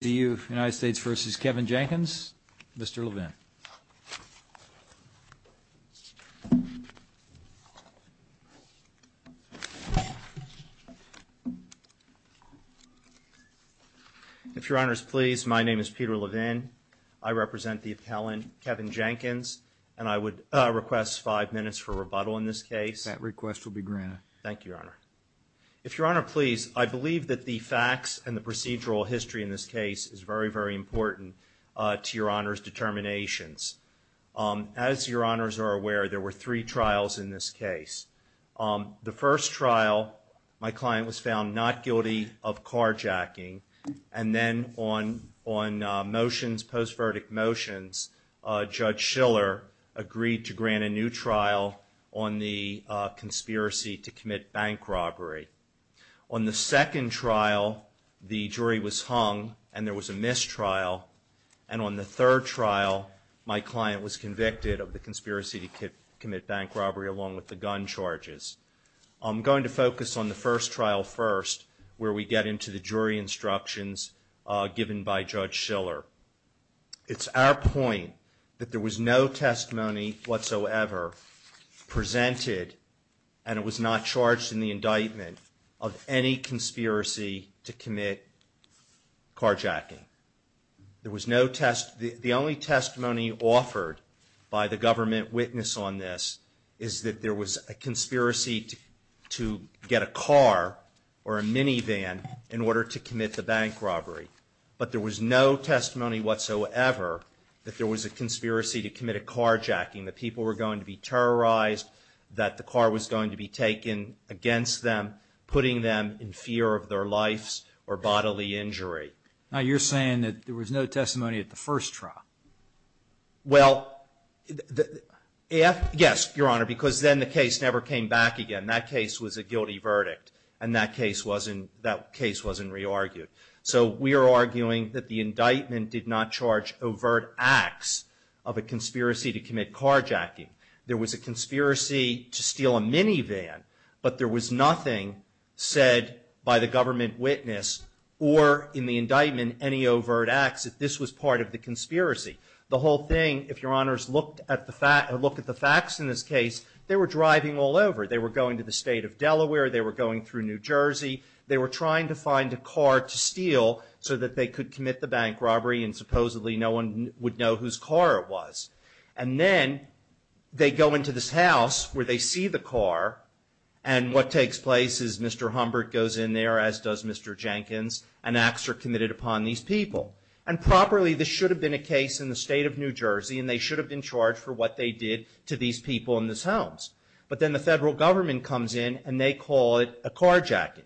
The United States vs. Kevin Jenkins, Mr. Levin. If Your Honor's please, my name is Peter Levin. I represent the appellant Kevin Jenkins, and I would request five minutes for rebuttal in this case. That request will be granted. Thank you, Your Honor. If Your Honor's please, I believe that the facts and the procedural history in this case is very, very important to Your Honor's determinations. As Your Honor's are aware, there were three trials in this case. The first trial, my client was found not guilty of carjacking, and then on motions, post-verdict motions, Judge Schiller agreed to grant a new trial on the conspiracy to commit bank robbery. On the second trial, the jury was hung, and there was a missed trial. And on the third trial, my client was convicted of the conspiracy to commit bank robbery, along with the gun charges. I'm going to focus on the first trial first, where we get into the jury instructions given by Judge Schiller. It's our point that there was no testimony whatsoever presented, and it was not charged in the indictment, of any conspiracy to commit carjacking. The only testimony offered by the government witness on this is that there was a conspiracy to get a car or a minivan in order to commit the bank robbery. But there was no testimony whatsoever that there was a conspiracy to commit a carjacking, that people were going to be terrorized, that the car was going to be taken against them, putting them in fear of their lives or bodily injury. Now, you're saying that there was no testimony at the first trial. Well, yes, Your Honor, because then the case never came back again. That case was a guilty verdict, and that case wasn't re-argued. So we are arguing that the indictment did not charge overt acts of a conspiracy to commit carjacking. There was a conspiracy to steal a minivan, but there was nothing said by the government witness or in the indictment any overt acts that this was part of the conspiracy. The whole thing, if Your Honors looked at the facts in this case, they were driving all over. They were going to the state of Delaware. They were going through New Jersey. They were trying to find a car to steal so that they could commit the bank robbery and supposedly no one would know whose car it was. And then they go into this house where they see the car, and what takes place is Mr. Humbert goes in there, as does Mr. Jenkins, and acts are committed upon these people. And properly, this should have been a case in the state of New Jersey, and they should have been charged for what they did to these people in these homes. But then the federal government comes in, and they call it a carjacking.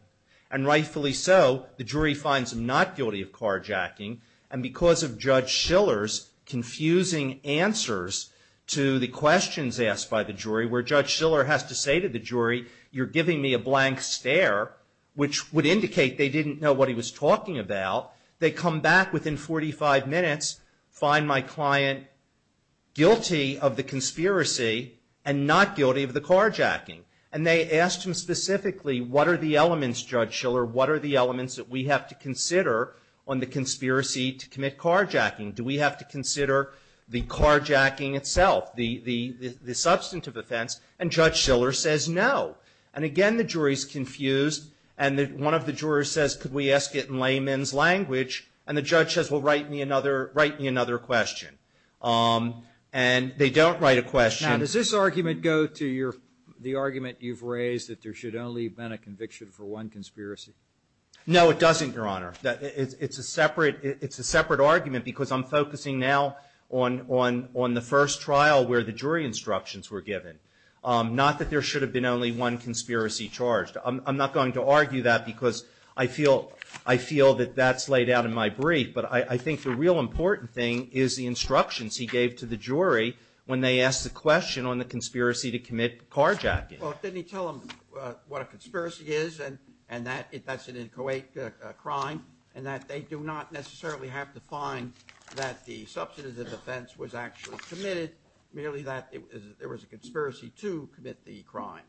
And rightfully so, the jury finds them not guilty of carjacking. And because of Judge Shiller's confusing answers to the questions asked by the jury, where Judge Shiller has to say to the jury, you're giving me a blank stare, which would indicate they didn't know what he was talking about, they come back within 45 minutes, find my client guilty of the conspiracy and not guilty of the carjacking. And they ask him specifically, what are the elements, Judge Shiller, what are the elements that we have to consider on the conspiracy to commit carjacking? Do we have to consider the carjacking itself, the substantive offense? And Judge Shiller says no. And again, the jury is confused, and one of the jurors says, could we ask it in layman's language? And the judge says, well, write me another question. And they don't write a question. Now, does this argument go to the argument you've raised, that there should only have been a conviction for one conspiracy? No, it doesn't, Your Honor. It's a separate argument because I'm focusing now on the first trial where the jury instructions were given, not that there should have been only one conspiracy charged. I'm not going to argue that because I feel that that's laid out in my brief. But I think the real important thing is the instructions he gave to the jury when they asked the question on the conspiracy to commit carjacking. Well, didn't he tell them what a conspiracy is and that's an inchoate crime and that they do not necessarily have to find that the substantive offense was actually committed, merely that there was a conspiracy to commit the crime?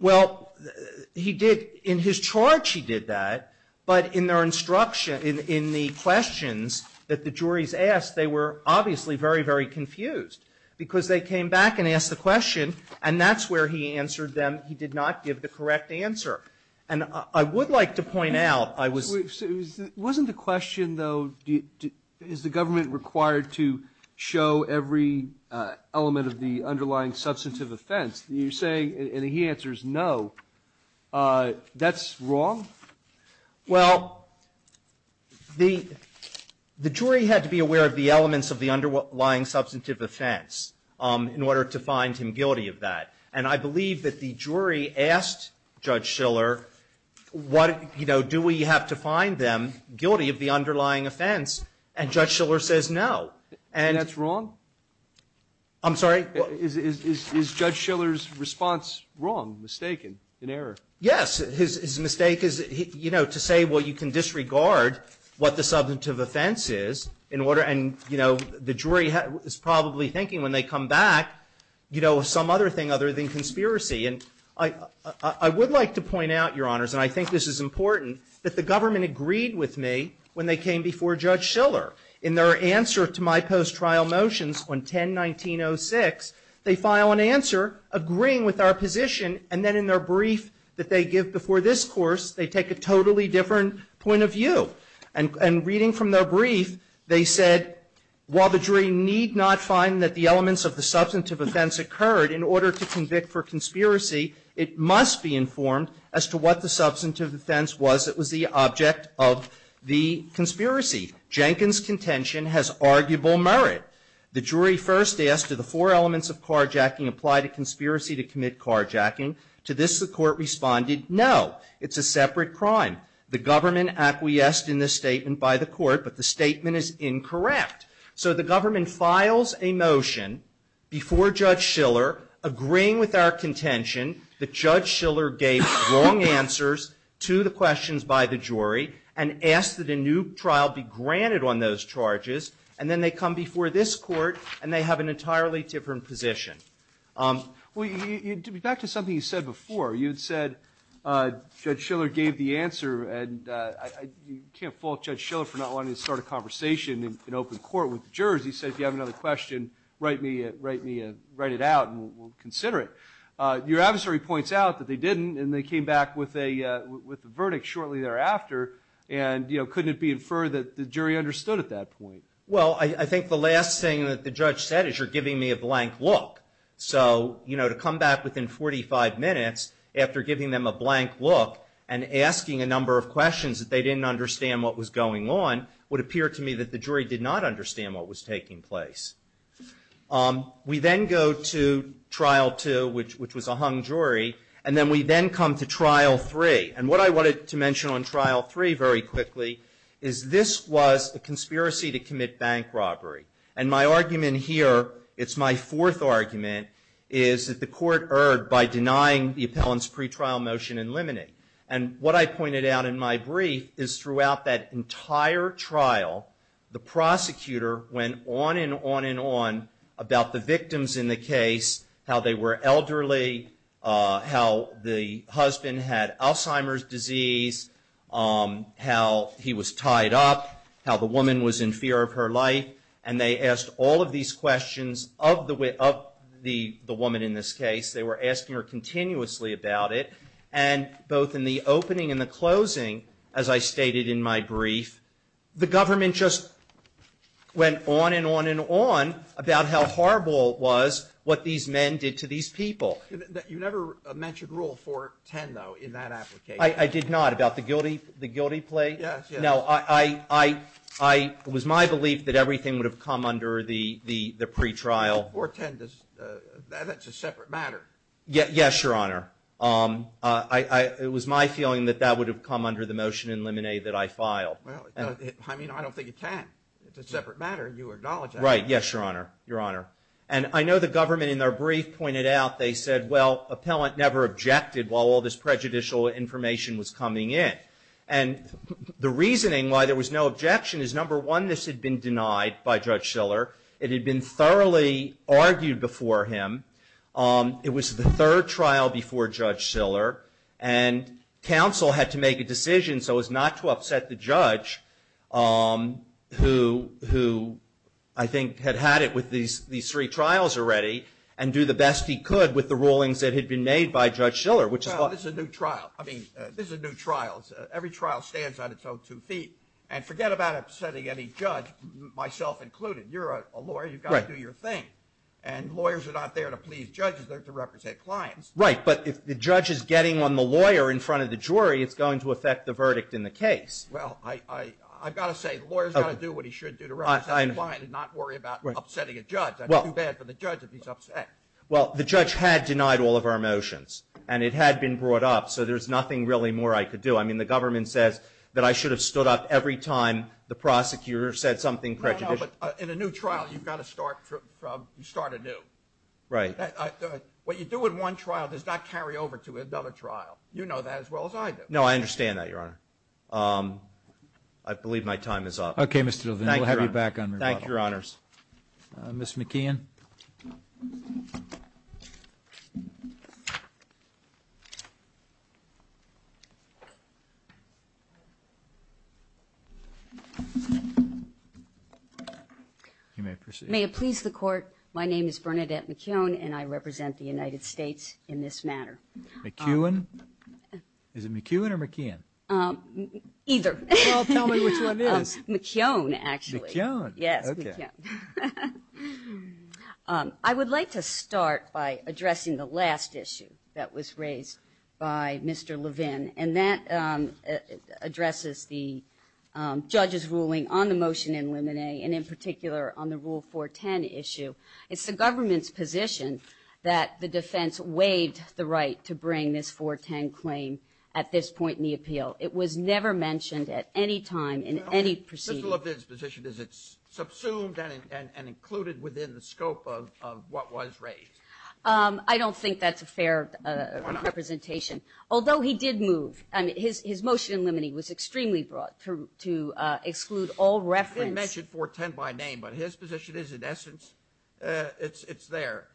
Well, he did. In his charge, he did that. But in their instruction, in the questions that the juries asked, they were obviously very, very confused because they came back and asked the question and that's where he answered them. He did not give the correct answer. And I would like to point out, I was. Wasn't the question, though, is the government required to show every element of the underlying substantive offense? You're saying, and he answers, no. That's wrong? Well, the jury had to be aware of the elements of the underlying substantive offense in order to find him guilty of that. And I believe that the jury asked Judge Schiller, what, you know, do we have to find them guilty of the underlying offense, and Judge Schiller says no. And. And that's wrong? I'm sorry? Is Judge Schiller's response wrong, mistaken, in error? His mistake is, you know, to say, well, you can disregard what the substantive offense is in order, and, you know, the jury is probably thinking when they come back, you know, some other thing other than conspiracy. And I would like to point out, Your Honors, and I think this is important, that the government agreed with me when they came before Judge Schiller. In their answer to my post-trial motions on 10-1906, they file an answer agreeing with our position, and then in their brief that they give before this course, they take a totally different point of view. And reading from their brief, they said, while the jury need not find that the elements of the substantive offense occurred in order to convict for conspiracy, it must be informed as to what the substantive offense was that was the object of the conspiracy. Jenkins' contention has arguable merit. The jury first asked, do the four elements of carjacking apply to conspiracy to commit carjacking? To this, the court responded, no. It's a separate crime. The government acquiesced in this statement by the court, but the statement is incorrect. So the government files a motion before Judge Schiller, agreeing with our contention that Judge Schiller gave wrong answers to the questions by the jury, and asked that a new trial be granted on those charges, and then they come before this court, and they have an entirely different position. Well, back to something you said before. You had said Judge Schiller gave the answer, and you can't fault Judge Schiller for not wanting to start a conversation in open court with the jurors. He said, if you have another question, write it out, and we'll consider it. Your adversary points out that they didn't, and they came back with a verdict shortly thereafter, and couldn't it be inferred that the jury understood at that point? Well, I think the last thing that the judge said is you're giving me a blank look. So, you know, to come back within 45 minutes after giving them a blank look, and asking a number of questions that they didn't understand what was going on, would appear to me that the jury did not understand what was taking place. We then go to Trial 2, which was a hung jury, and then we then come to Trial 3. And what I wanted to mention on Trial 3 very quickly is this was a conspiracy to commit bank robbery. And my argument here, it's my fourth argument, is that the court erred by denying the appellant's pretrial motion in limine. And what I pointed out in my brief is throughout that entire trial, the prosecutor went on and on and on about the victims in the case, how they were elderly, how the husband had Alzheimer's disease, how he was tied up, how the wife was in fear of her life. And they asked all of these questions of the woman in this case. They were asking her continuously about it. And both in the opening and the closing, as I stated in my brief, the government just went on and on and on about how horrible it was what these men did to these people. You never mentioned Rule 410, though, in that application. I did not. About the guilty plea? Yes, yes. No, it was my belief that everything would have come under the pretrial. 410, that's a separate matter. Yes, Your Honor. It was my feeling that that would have come under the motion in limine that I filed. Well, I mean, I don't think it can. It's a separate matter. You acknowledge that. Right. Yes, Your Honor. Your Honor. And I know the government in their brief pointed out they said, well, appellant never objected while all this prejudicial information was coming in. And the reasoning why there was no objection is, number one, this had been denied by Judge Siller. It had been thoroughly argued before him. It was the third trial before Judge Siller, and counsel had to make a decision so as not to upset the judge who I think had had it with these three trials already and do the best he could with the rulings that had been made by Judge Siller. Well, this is a new trial. Every trial stands on its own two feet. And forget about upsetting any judge, myself included. You're a lawyer. You've got to do your thing. And lawyers are not there to please judges. They're there to represent clients. Right. But if the judge is getting on the lawyer in front of the jury, it's going to affect the verdict in the case. Well, I've got to say, the lawyer's got to do what he should do to represent the client and not worry about upsetting a judge. It's too bad for the judge if he's upset. Well, the judge had denied all of our motions, and it had been brought up. So there's nothing really more I could do. I mean, the government says that I should have stood up every time the prosecutor said something prejudicial. No, no. But in a new trial, you've got to start anew. Right. What you do in one trial does not carry over to another trial. You know that as well as I do. No, I understand that, Your Honor. I believe my time is up. We'll have you back on rebuttal. Thank you, Your Honors. Ms. McKeon. You may proceed. May it please the Court, my name is Bernadette McKeon, and I represent the United States in this matter. McKeon? Is it McKeon or McKeon? Either. Well, tell me which one it is. McKeon, actually. McKeon? Yes, McKeon. I would like to start by addressing the last issue that was raised by Mr. Levin, and that addresses the judge's ruling on the motion in Limine, and in particular on the Rule 410 issue. It's the government's position that the defense waived the right to bring this 410 claim at this point in the appeal. It was never mentioned at any time in any proceeding. The appeal of his position is it's subsumed and included within the scope of what was raised. I don't think that's a fair representation. Why not? Although he did move, and his motion in Limine was extremely broad to exclude all reference. He mentioned 410 by name, but his position is, in essence, it's there.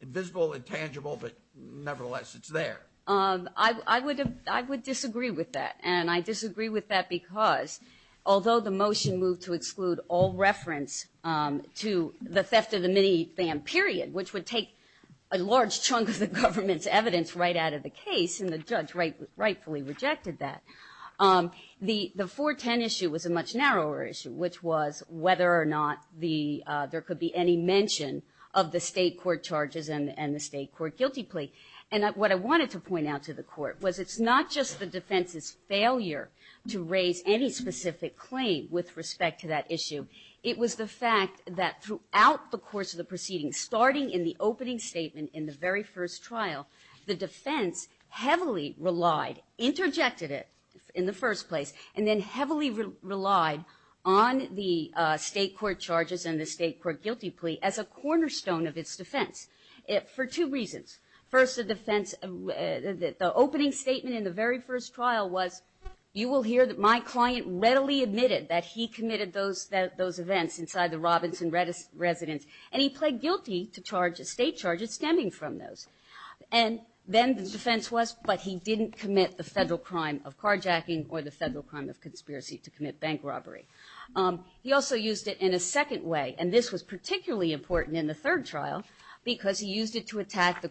Invisible, intangible, but nevertheless, it's there. I would disagree with that, and I disagree with that because although the motion moved to exclude all reference to the theft of the minifam period, which would take a large chunk of the government's evidence right out of the case, and the judge rightfully rejected that, the 410 issue was a much narrower issue, which was whether or not there could be any mention of the state court charges and the state court guilty plea. And what I wanted to point out to the court was it's not just the defense's failure to raise any specific claim with respect to that issue. It was the fact that throughout the course of the proceeding, starting in the opening statement in the very first trial, the defense heavily relied, interjected it in the first place, and then heavily relied on the state court charges and the state court guilty plea as a cornerstone of its defense for two reasons. First, the defense, the opening statement in the very first trial was, you will hear that my client readily admitted that he committed those events inside the Robinson residence, and he pled guilty to state charges stemming from those. And then the defense was, but he didn't commit the federal crime of carjacking or the federal crime of conspiracy to commit bank robbery. He also used it in a second way, and this was particularly important in the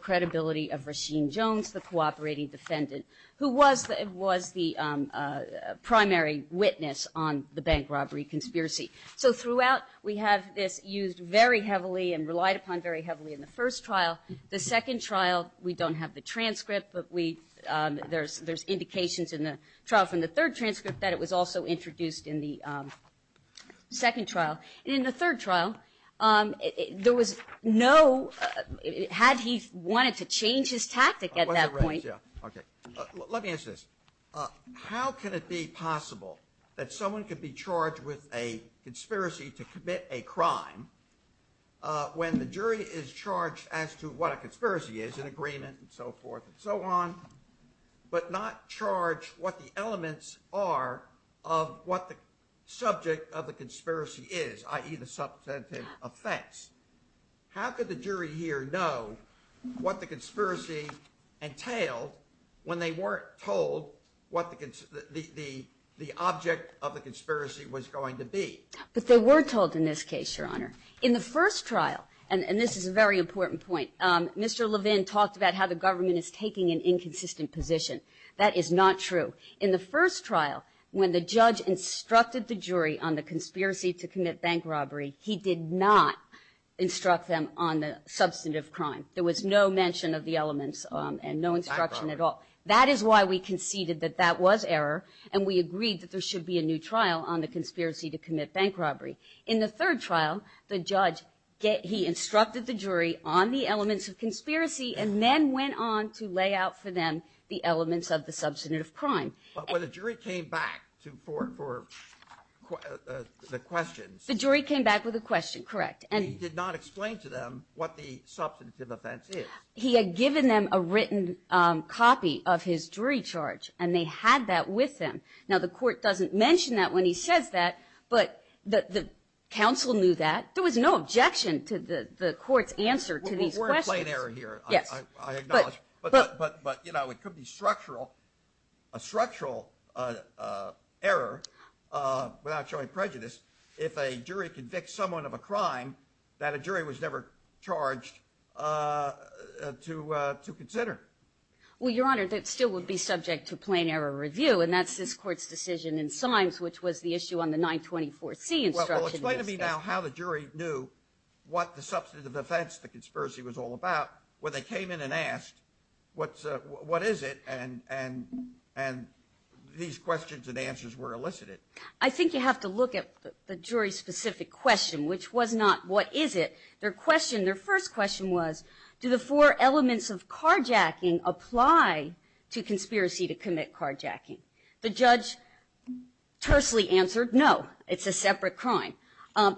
credibility of Rasheem Jones, the cooperating defendant, who was the primary witness on the bank robbery conspiracy. So throughout, we have this used very heavily and relied upon very heavily in the first trial. The second trial, we don't have the transcript, but there's indications in the trial from the third transcript that it was also introduced in the second trial. In the third trial, there was no, had he wanted to change his tactic at that point. Let me ask this. How can it be possible that someone could be charged with a conspiracy to commit a crime when the jury is charged as to what a conspiracy is, an agreement and so forth and so on, but not charge what the elements are of what the subject of the conspiracy is i.e. the substantive effects? How could the jury here know what the conspiracy entailed when they weren't told what the object of the conspiracy was going to be? But they were told in this case, Your Honor. In the first trial, and this is a very important point, Mr. Levin talked about how the government is taking an inconsistent position. That is not true. In the first trial, when the judge instructed the jury on the conspiracy to commit bank robbery, he did not instruct them on the substantive crime. There was no mention of the elements and no instruction at all. That is why we conceded that that was error and we agreed that there should be a new trial on the conspiracy to commit bank robbery. In the third trial, the judge, he instructed the jury on the elements of conspiracy and then went on to lay out for them the elements of the substantive crime. When the jury came back for the questions. The jury came back with a question, correct. He did not explain to them what the substantive offense is. He had given them a written copy of his jury charge and they had that with them. Now, the court doesn't mention that when he says that, but the counsel knew that. There was no objection to the court's answer to these questions. We're in plain error here, I acknowledge. But, you know, it could be structural, a structural error without showing prejudice if a jury convicts someone of a crime that a jury was never charged to consider. Well, Your Honor, that still would be subject to plain error review and that's this court's decision in Simes, which was the issue on the 924C instruction. Well, explain to me now how the jury knew what the substantive offense, the conspiracy was all about when they came in and asked what is it and these questions and answers were elicited. I think you have to look at the jury's specific question, which was not what is it. Their question, their first question was, do the four elements of carjacking apply to conspiracy to commit carjacking? The judge tersely answered, no, it's a separate crime.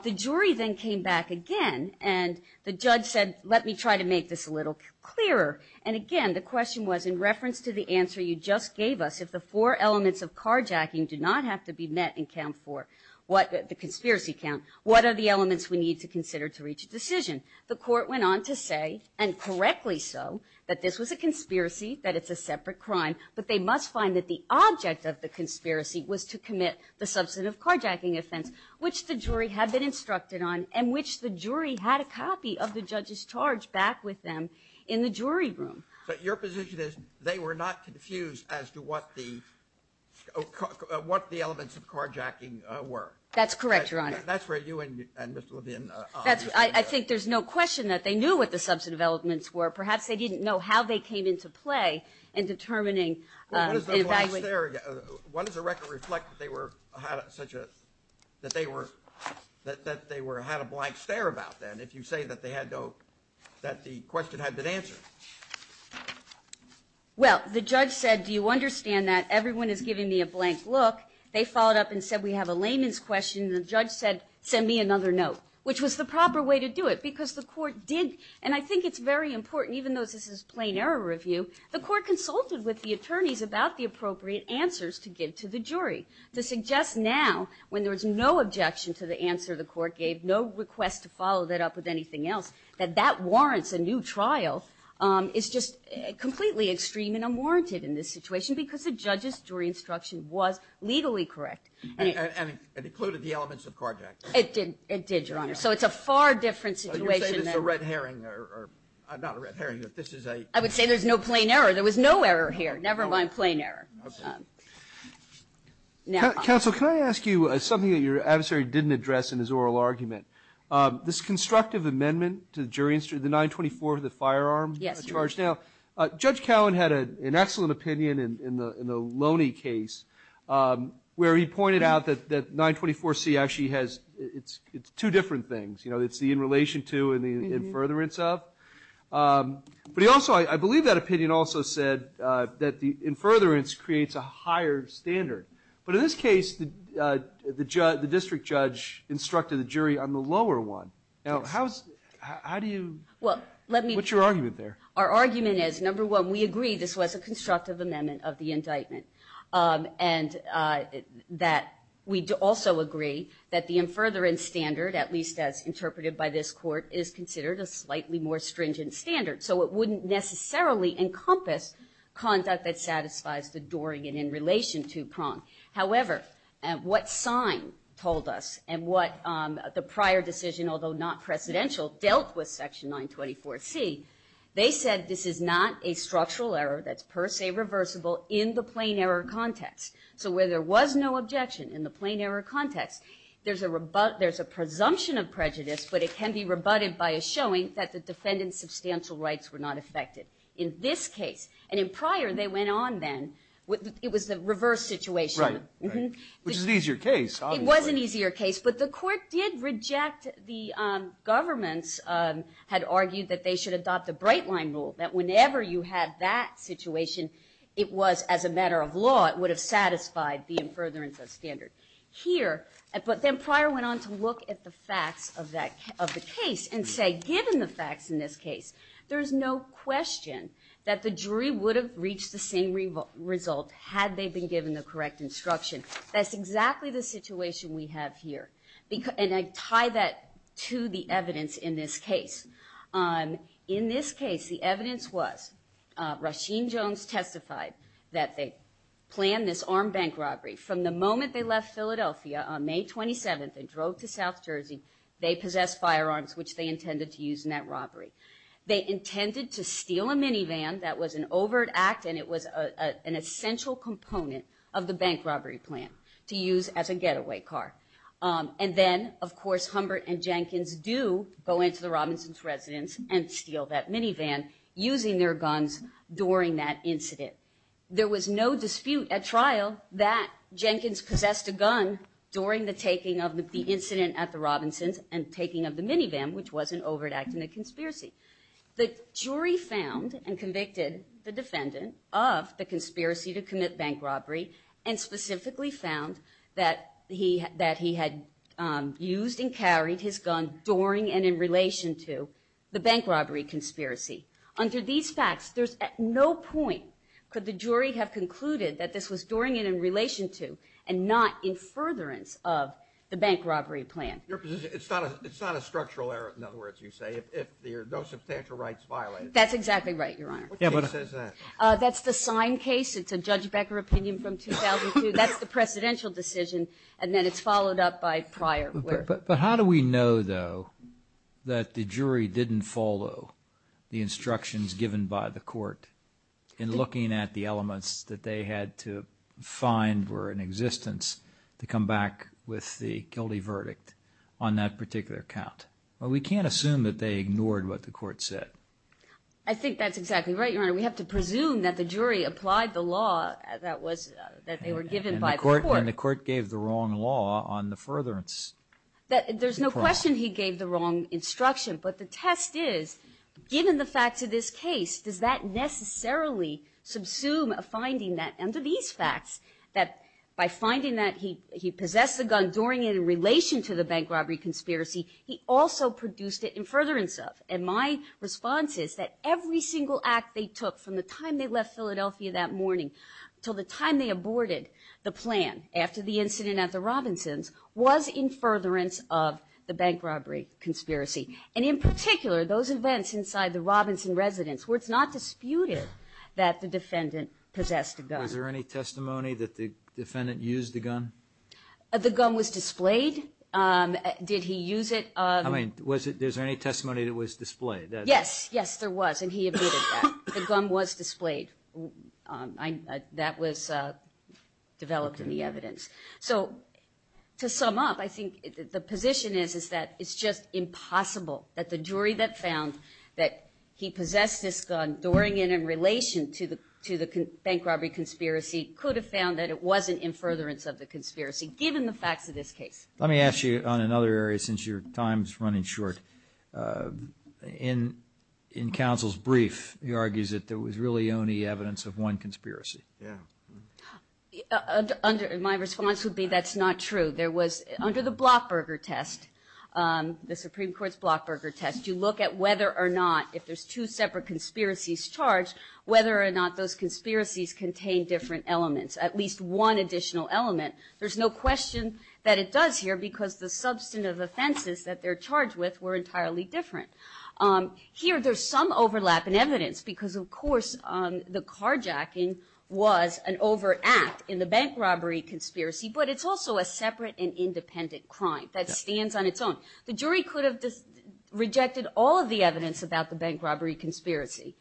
The jury then came back again and the judge said, let me try to make this a little clearer. And again, the question was in reference to the answer you just gave us, if the four elements of carjacking do not have to be met in count four, the conspiracy count, what are the elements we need to consider to reach a decision? The court went on to say, and correctly so, that this was a conspiracy, that it's a separate crime, but they must find that the object of the conspiracy was to commit the substantive carjacking offense, which the jury had been instructed on and which the jury had a copy of the judge's charge back with them in the jury room. So your position is they were not confused as to what the elements of carjacking were? That's correct, Your Honor. That's where you and Mr. Levine are. I think there's no question that they knew what the substantive elements were. Perhaps they didn't know how they came into play in determining and evaluating Why does the record reflect that they had a blank stare about that, if you say that the question had been answered? Well, the judge said, do you understand that? Everyone is giving me a blank look. They followed up and said, we have a layman's question. The judge said, send me another note, which was the proper way to do it, because the court did. And I think it's very important, even though this is plain error review, the court consulted with the attorneys about the appropriate answers to give to the jury. To suggest now, when there was no objection to the answer the court gave, no request to follow that up with anything else, that that warrants a new trial is just completely extreme and unwarranted in this situation, because the judge's jury instruction was legally correct. And it included the elements of carjacking? It did, Your Honor. So it's a far different situation now. So you're saying it's a red herring, or not a red herring, but this is a I would say there's no plain error. There was no error here. Never mind plain error. Counsel, can I ask you something that your adversary didn't address in his oral argument? This constructive amendment to the jury instruction, the 924 to the firearm charge now, Judge Cowan had an excellent opinion in the Loney case, where he pointed out that 924C actually has two different things. It's the in relation to and the in furtherance of. But he also, I believe that opinion also said that the in furtherance creates a higher standard. But in this case, the district judge instructed the jury on the lower one. Now, how do you, what's your argument there? Our argument is, number one, we agree this was a constructive amendment of the indictment, and that we also agree that the in furtherance standard, at least as interpreted by this court, is considered a slightly more stringent standard. So it wouldn't necessarily encompass conduct that satisfies the Dorian in relation to Prong. However, what sign told us and what the prior decision, although not presidential, dealt with section 924C, they said this is not a structural error that's per se reversible in the plain error context. So where there was no objection in the plain error context, there's a presumption of prejudice, but it can be rebutted by a showing that the defendant's substantial rights were not affected in this case. And in prior, they went on then. It was the reverse situation. Right. Which is an easier case, obviously. It was an easier case. But the court did reject the government's, had argued that they should adopt the bright line rule, that whenever you had that situation, it was as a matter of law, it would have satisfied the in furtherance standard. Here, but then prior went on to look at the facts of the case and say, given the facts in this case, there's no question that the jury would have reached the same result had they been given the correct instruction. That's exactly the situation we have here. And I tie that to the evidence in this case. In this case, the evidence was, Rasheen Jones testified that they planned this armed bank robbery from the moment they left Philadelphia on May 27th and drove to South Jersey. They possessed firearms, which they intended to use in that robbery. They intended to steal a minivan. That was an overt act, and it was an essential component of the bank robbery plan to use as a getaway car. And then, of course, Humbert and Jenkins do go into the Robinson's residence and steal that minivan using their guns during that incident. There was no dispute at trial that Jenkins possessed a gun during the taking of the incident at the Robinson's and taking of the minivan, which was an overt act in the conspiracy. The jury found and convicted the defendant of the conspiracy to commit bank robbery and specifically found that he had used and carried his gun during and in relation to the bank robbery conspiracy. Under these facts, there's at no point could the jury have concluded that this was during and in relation to and not in furtherance of the bank robbery plan. Your position, it's not a structural error, in other words, you say, if there are no substantial rights violated. That's exactly right, Your Honor. What case is that? That's the sign case. It's a Judge Becker opinion from 2002. That's the presidential decision, and then it's followed up by prior work. But how do we know, though, that the jury didn't follow the instructions given by the court in looking at the elements that they had to find were in existence to come back with the guilty verdict on that particular count? We can't assume that they ignored what the court said. I think that's exactly right, Your Honor. We have to presume that the jury applied the law that they were given by the court. And the court gave the wrong law on the furtherance. There's no question he gave the wrong instruction, but the test is given the facts of this case, does that necessarily subsume a finding that under these facts that by finding that he possessed a gun during and in relation to the bank robbery conspiracy, he also produced it in furtherance of. And my response is that every single act they took from the time they left after the incident at the Robinsons was in furtherance of the bank robbery conspiracy. And in particular, those events inside the Robinson residence where it's not disputed that the defendant possessed a gun. Was there any testimony that the defendant used the gun? The gun was displayed. Did he use it? I mean, was there any testimony that it was displayed? Yes, yes, there was, and he admitted that. The gun was displayed. That was developed in the evidence. So to sum up, I think the position is that it's just impossible that the jury that found that he possessed this gun during and in relation to the bank robbery conspiracy could have found that it wasn't in furtherance of the conspiracy given the facts of this case. Let me ask you on another area since your time is running short. In counsel's brief, he argues that there was really only evidence of one conspiracy. Yeah. My response would be that's not true. Under the Blockburger test, the Supreme Court's Blockburger test, you look at whether or not if there's two separate conspiracies charged, whether or not those conspiracies contain different elements, at least one additional element. There's no question that it does here because the substantive offenses that they're charged with were entirely different. Here, there's some overlap in evidence because, of course, the carjacking was an overact in the bank robbery conspiracy, but it's also a separate and independent crime that stands on its own. The jury could have rejected all of the evidence about the bank robbery conspiracy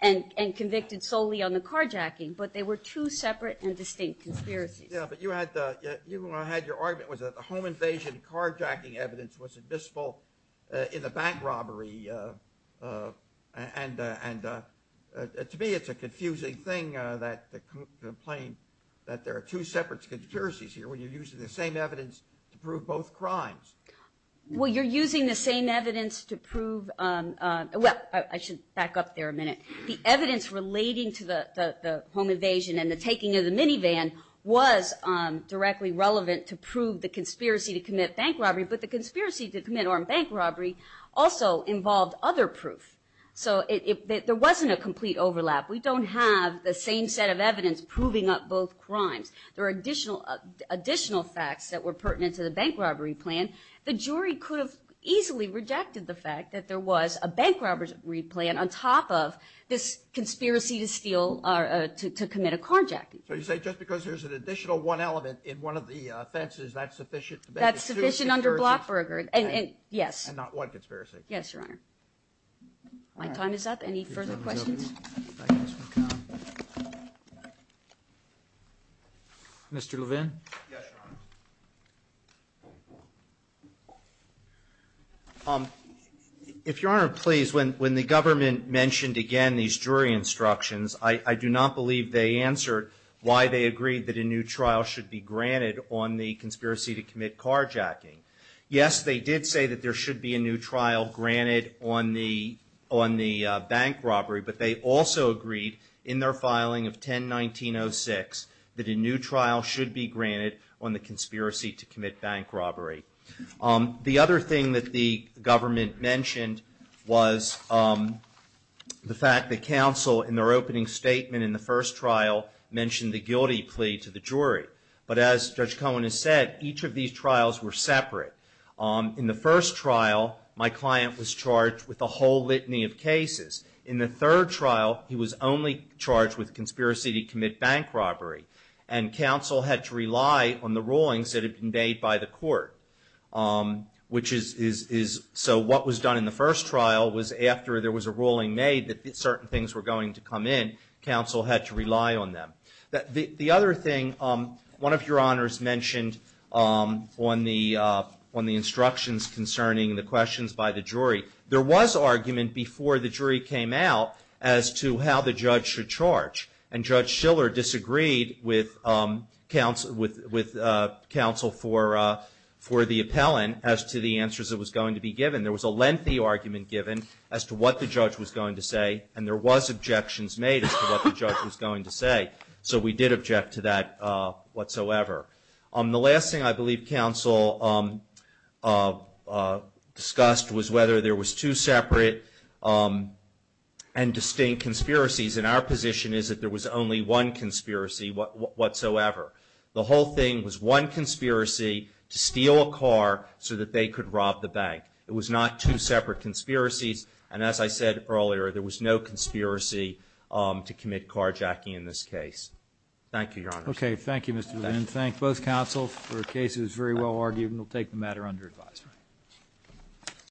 and convicted solely on the carjacking, but they were two separate and distinct conspiracies. Yeah, but you had your argument was that the home invasion carjacking evidence was admissible in the bank robbery, and to me it's a confusing thing that the complaint that there are two separate conspiracies here when you're using the same evidence to prove both crimes. Well, you're using the same evidence to prove—well, I should back up there a minute. The evidence relating to the home invasion and the taking of the minivan was directly relevant to prove the conspiracy to commit bank robbery, but the conspiracy to commit bank robbery also involved other proof. So there wasn't a complete overlap. We don't have the same set of evidence proving up both crimes. There are additional facts that were pertinent to the bank robbery plan. The jury could have easily rejected the fact that there was a bank robbery plan on top of this conspiracy to commit a carjacking. So you say just because there's an additional one element in one of the offenses, that's sufficient to make it two conspiracies? That's sufficient under Blackburger, yes. And not one conspiracy. Yes, Your Honor. My time is up. Any further questions? Mr. Levin? Yes, Your Honor. If Your Honor, please, when the government mentioned again these jury instructions, I do not believe they answered why they agreed that a new trial should be granted on the conspiracy to commit carjacking. Yes, they did say that there should be a new trial granted on the bank robbery, but they also agreed in their filing of 10-19-06 that a new trial should be granted on the conspiracy to commit bank robbery. The other thing that the government mentioned was the fact that counsel, in their opening statement in the first trial, mentioned the guilty plea to the jury. But as Judge Cohen has said, each of these trials were separate. In the first trial, my client was charged with a whole litany of cases. In the third trial, he was only charged with conspiracy to commit bank robbery, and counsel had to rely on the rulings that had been made by the court. So what was done in the first trial was after there was a ruling made that certain things were going to come in, counsel had to rely on them. The other thing, one of your honors mentioned on the instructions concerning the questions by the jury, there was argument before the jury came out as to how the judge should charge. And Judge Shiller disagreed with counsel for the appellant as to the answers that was going to be given. There was a lengthy argument given as to what the judge was going to say, and there was objections made as to what the judge was going to say. So we did object to that whatsoever. The last thing I believe counsel discussed was whether there was two separate and distinct conspiracies. And our position is that there was only one conspiracy whatsoever. The whole thing was one conspiracy to steal a car so that they could rob the bank. It was not two separate conspiracies. And as I said earlier, there was no conspiracy to commit carjacking in this case. Thank you, your honors. Okay. Thank you, Mr. Levin. Thank both counsels for a case that was very well argued. And we'll take the matter under advisory.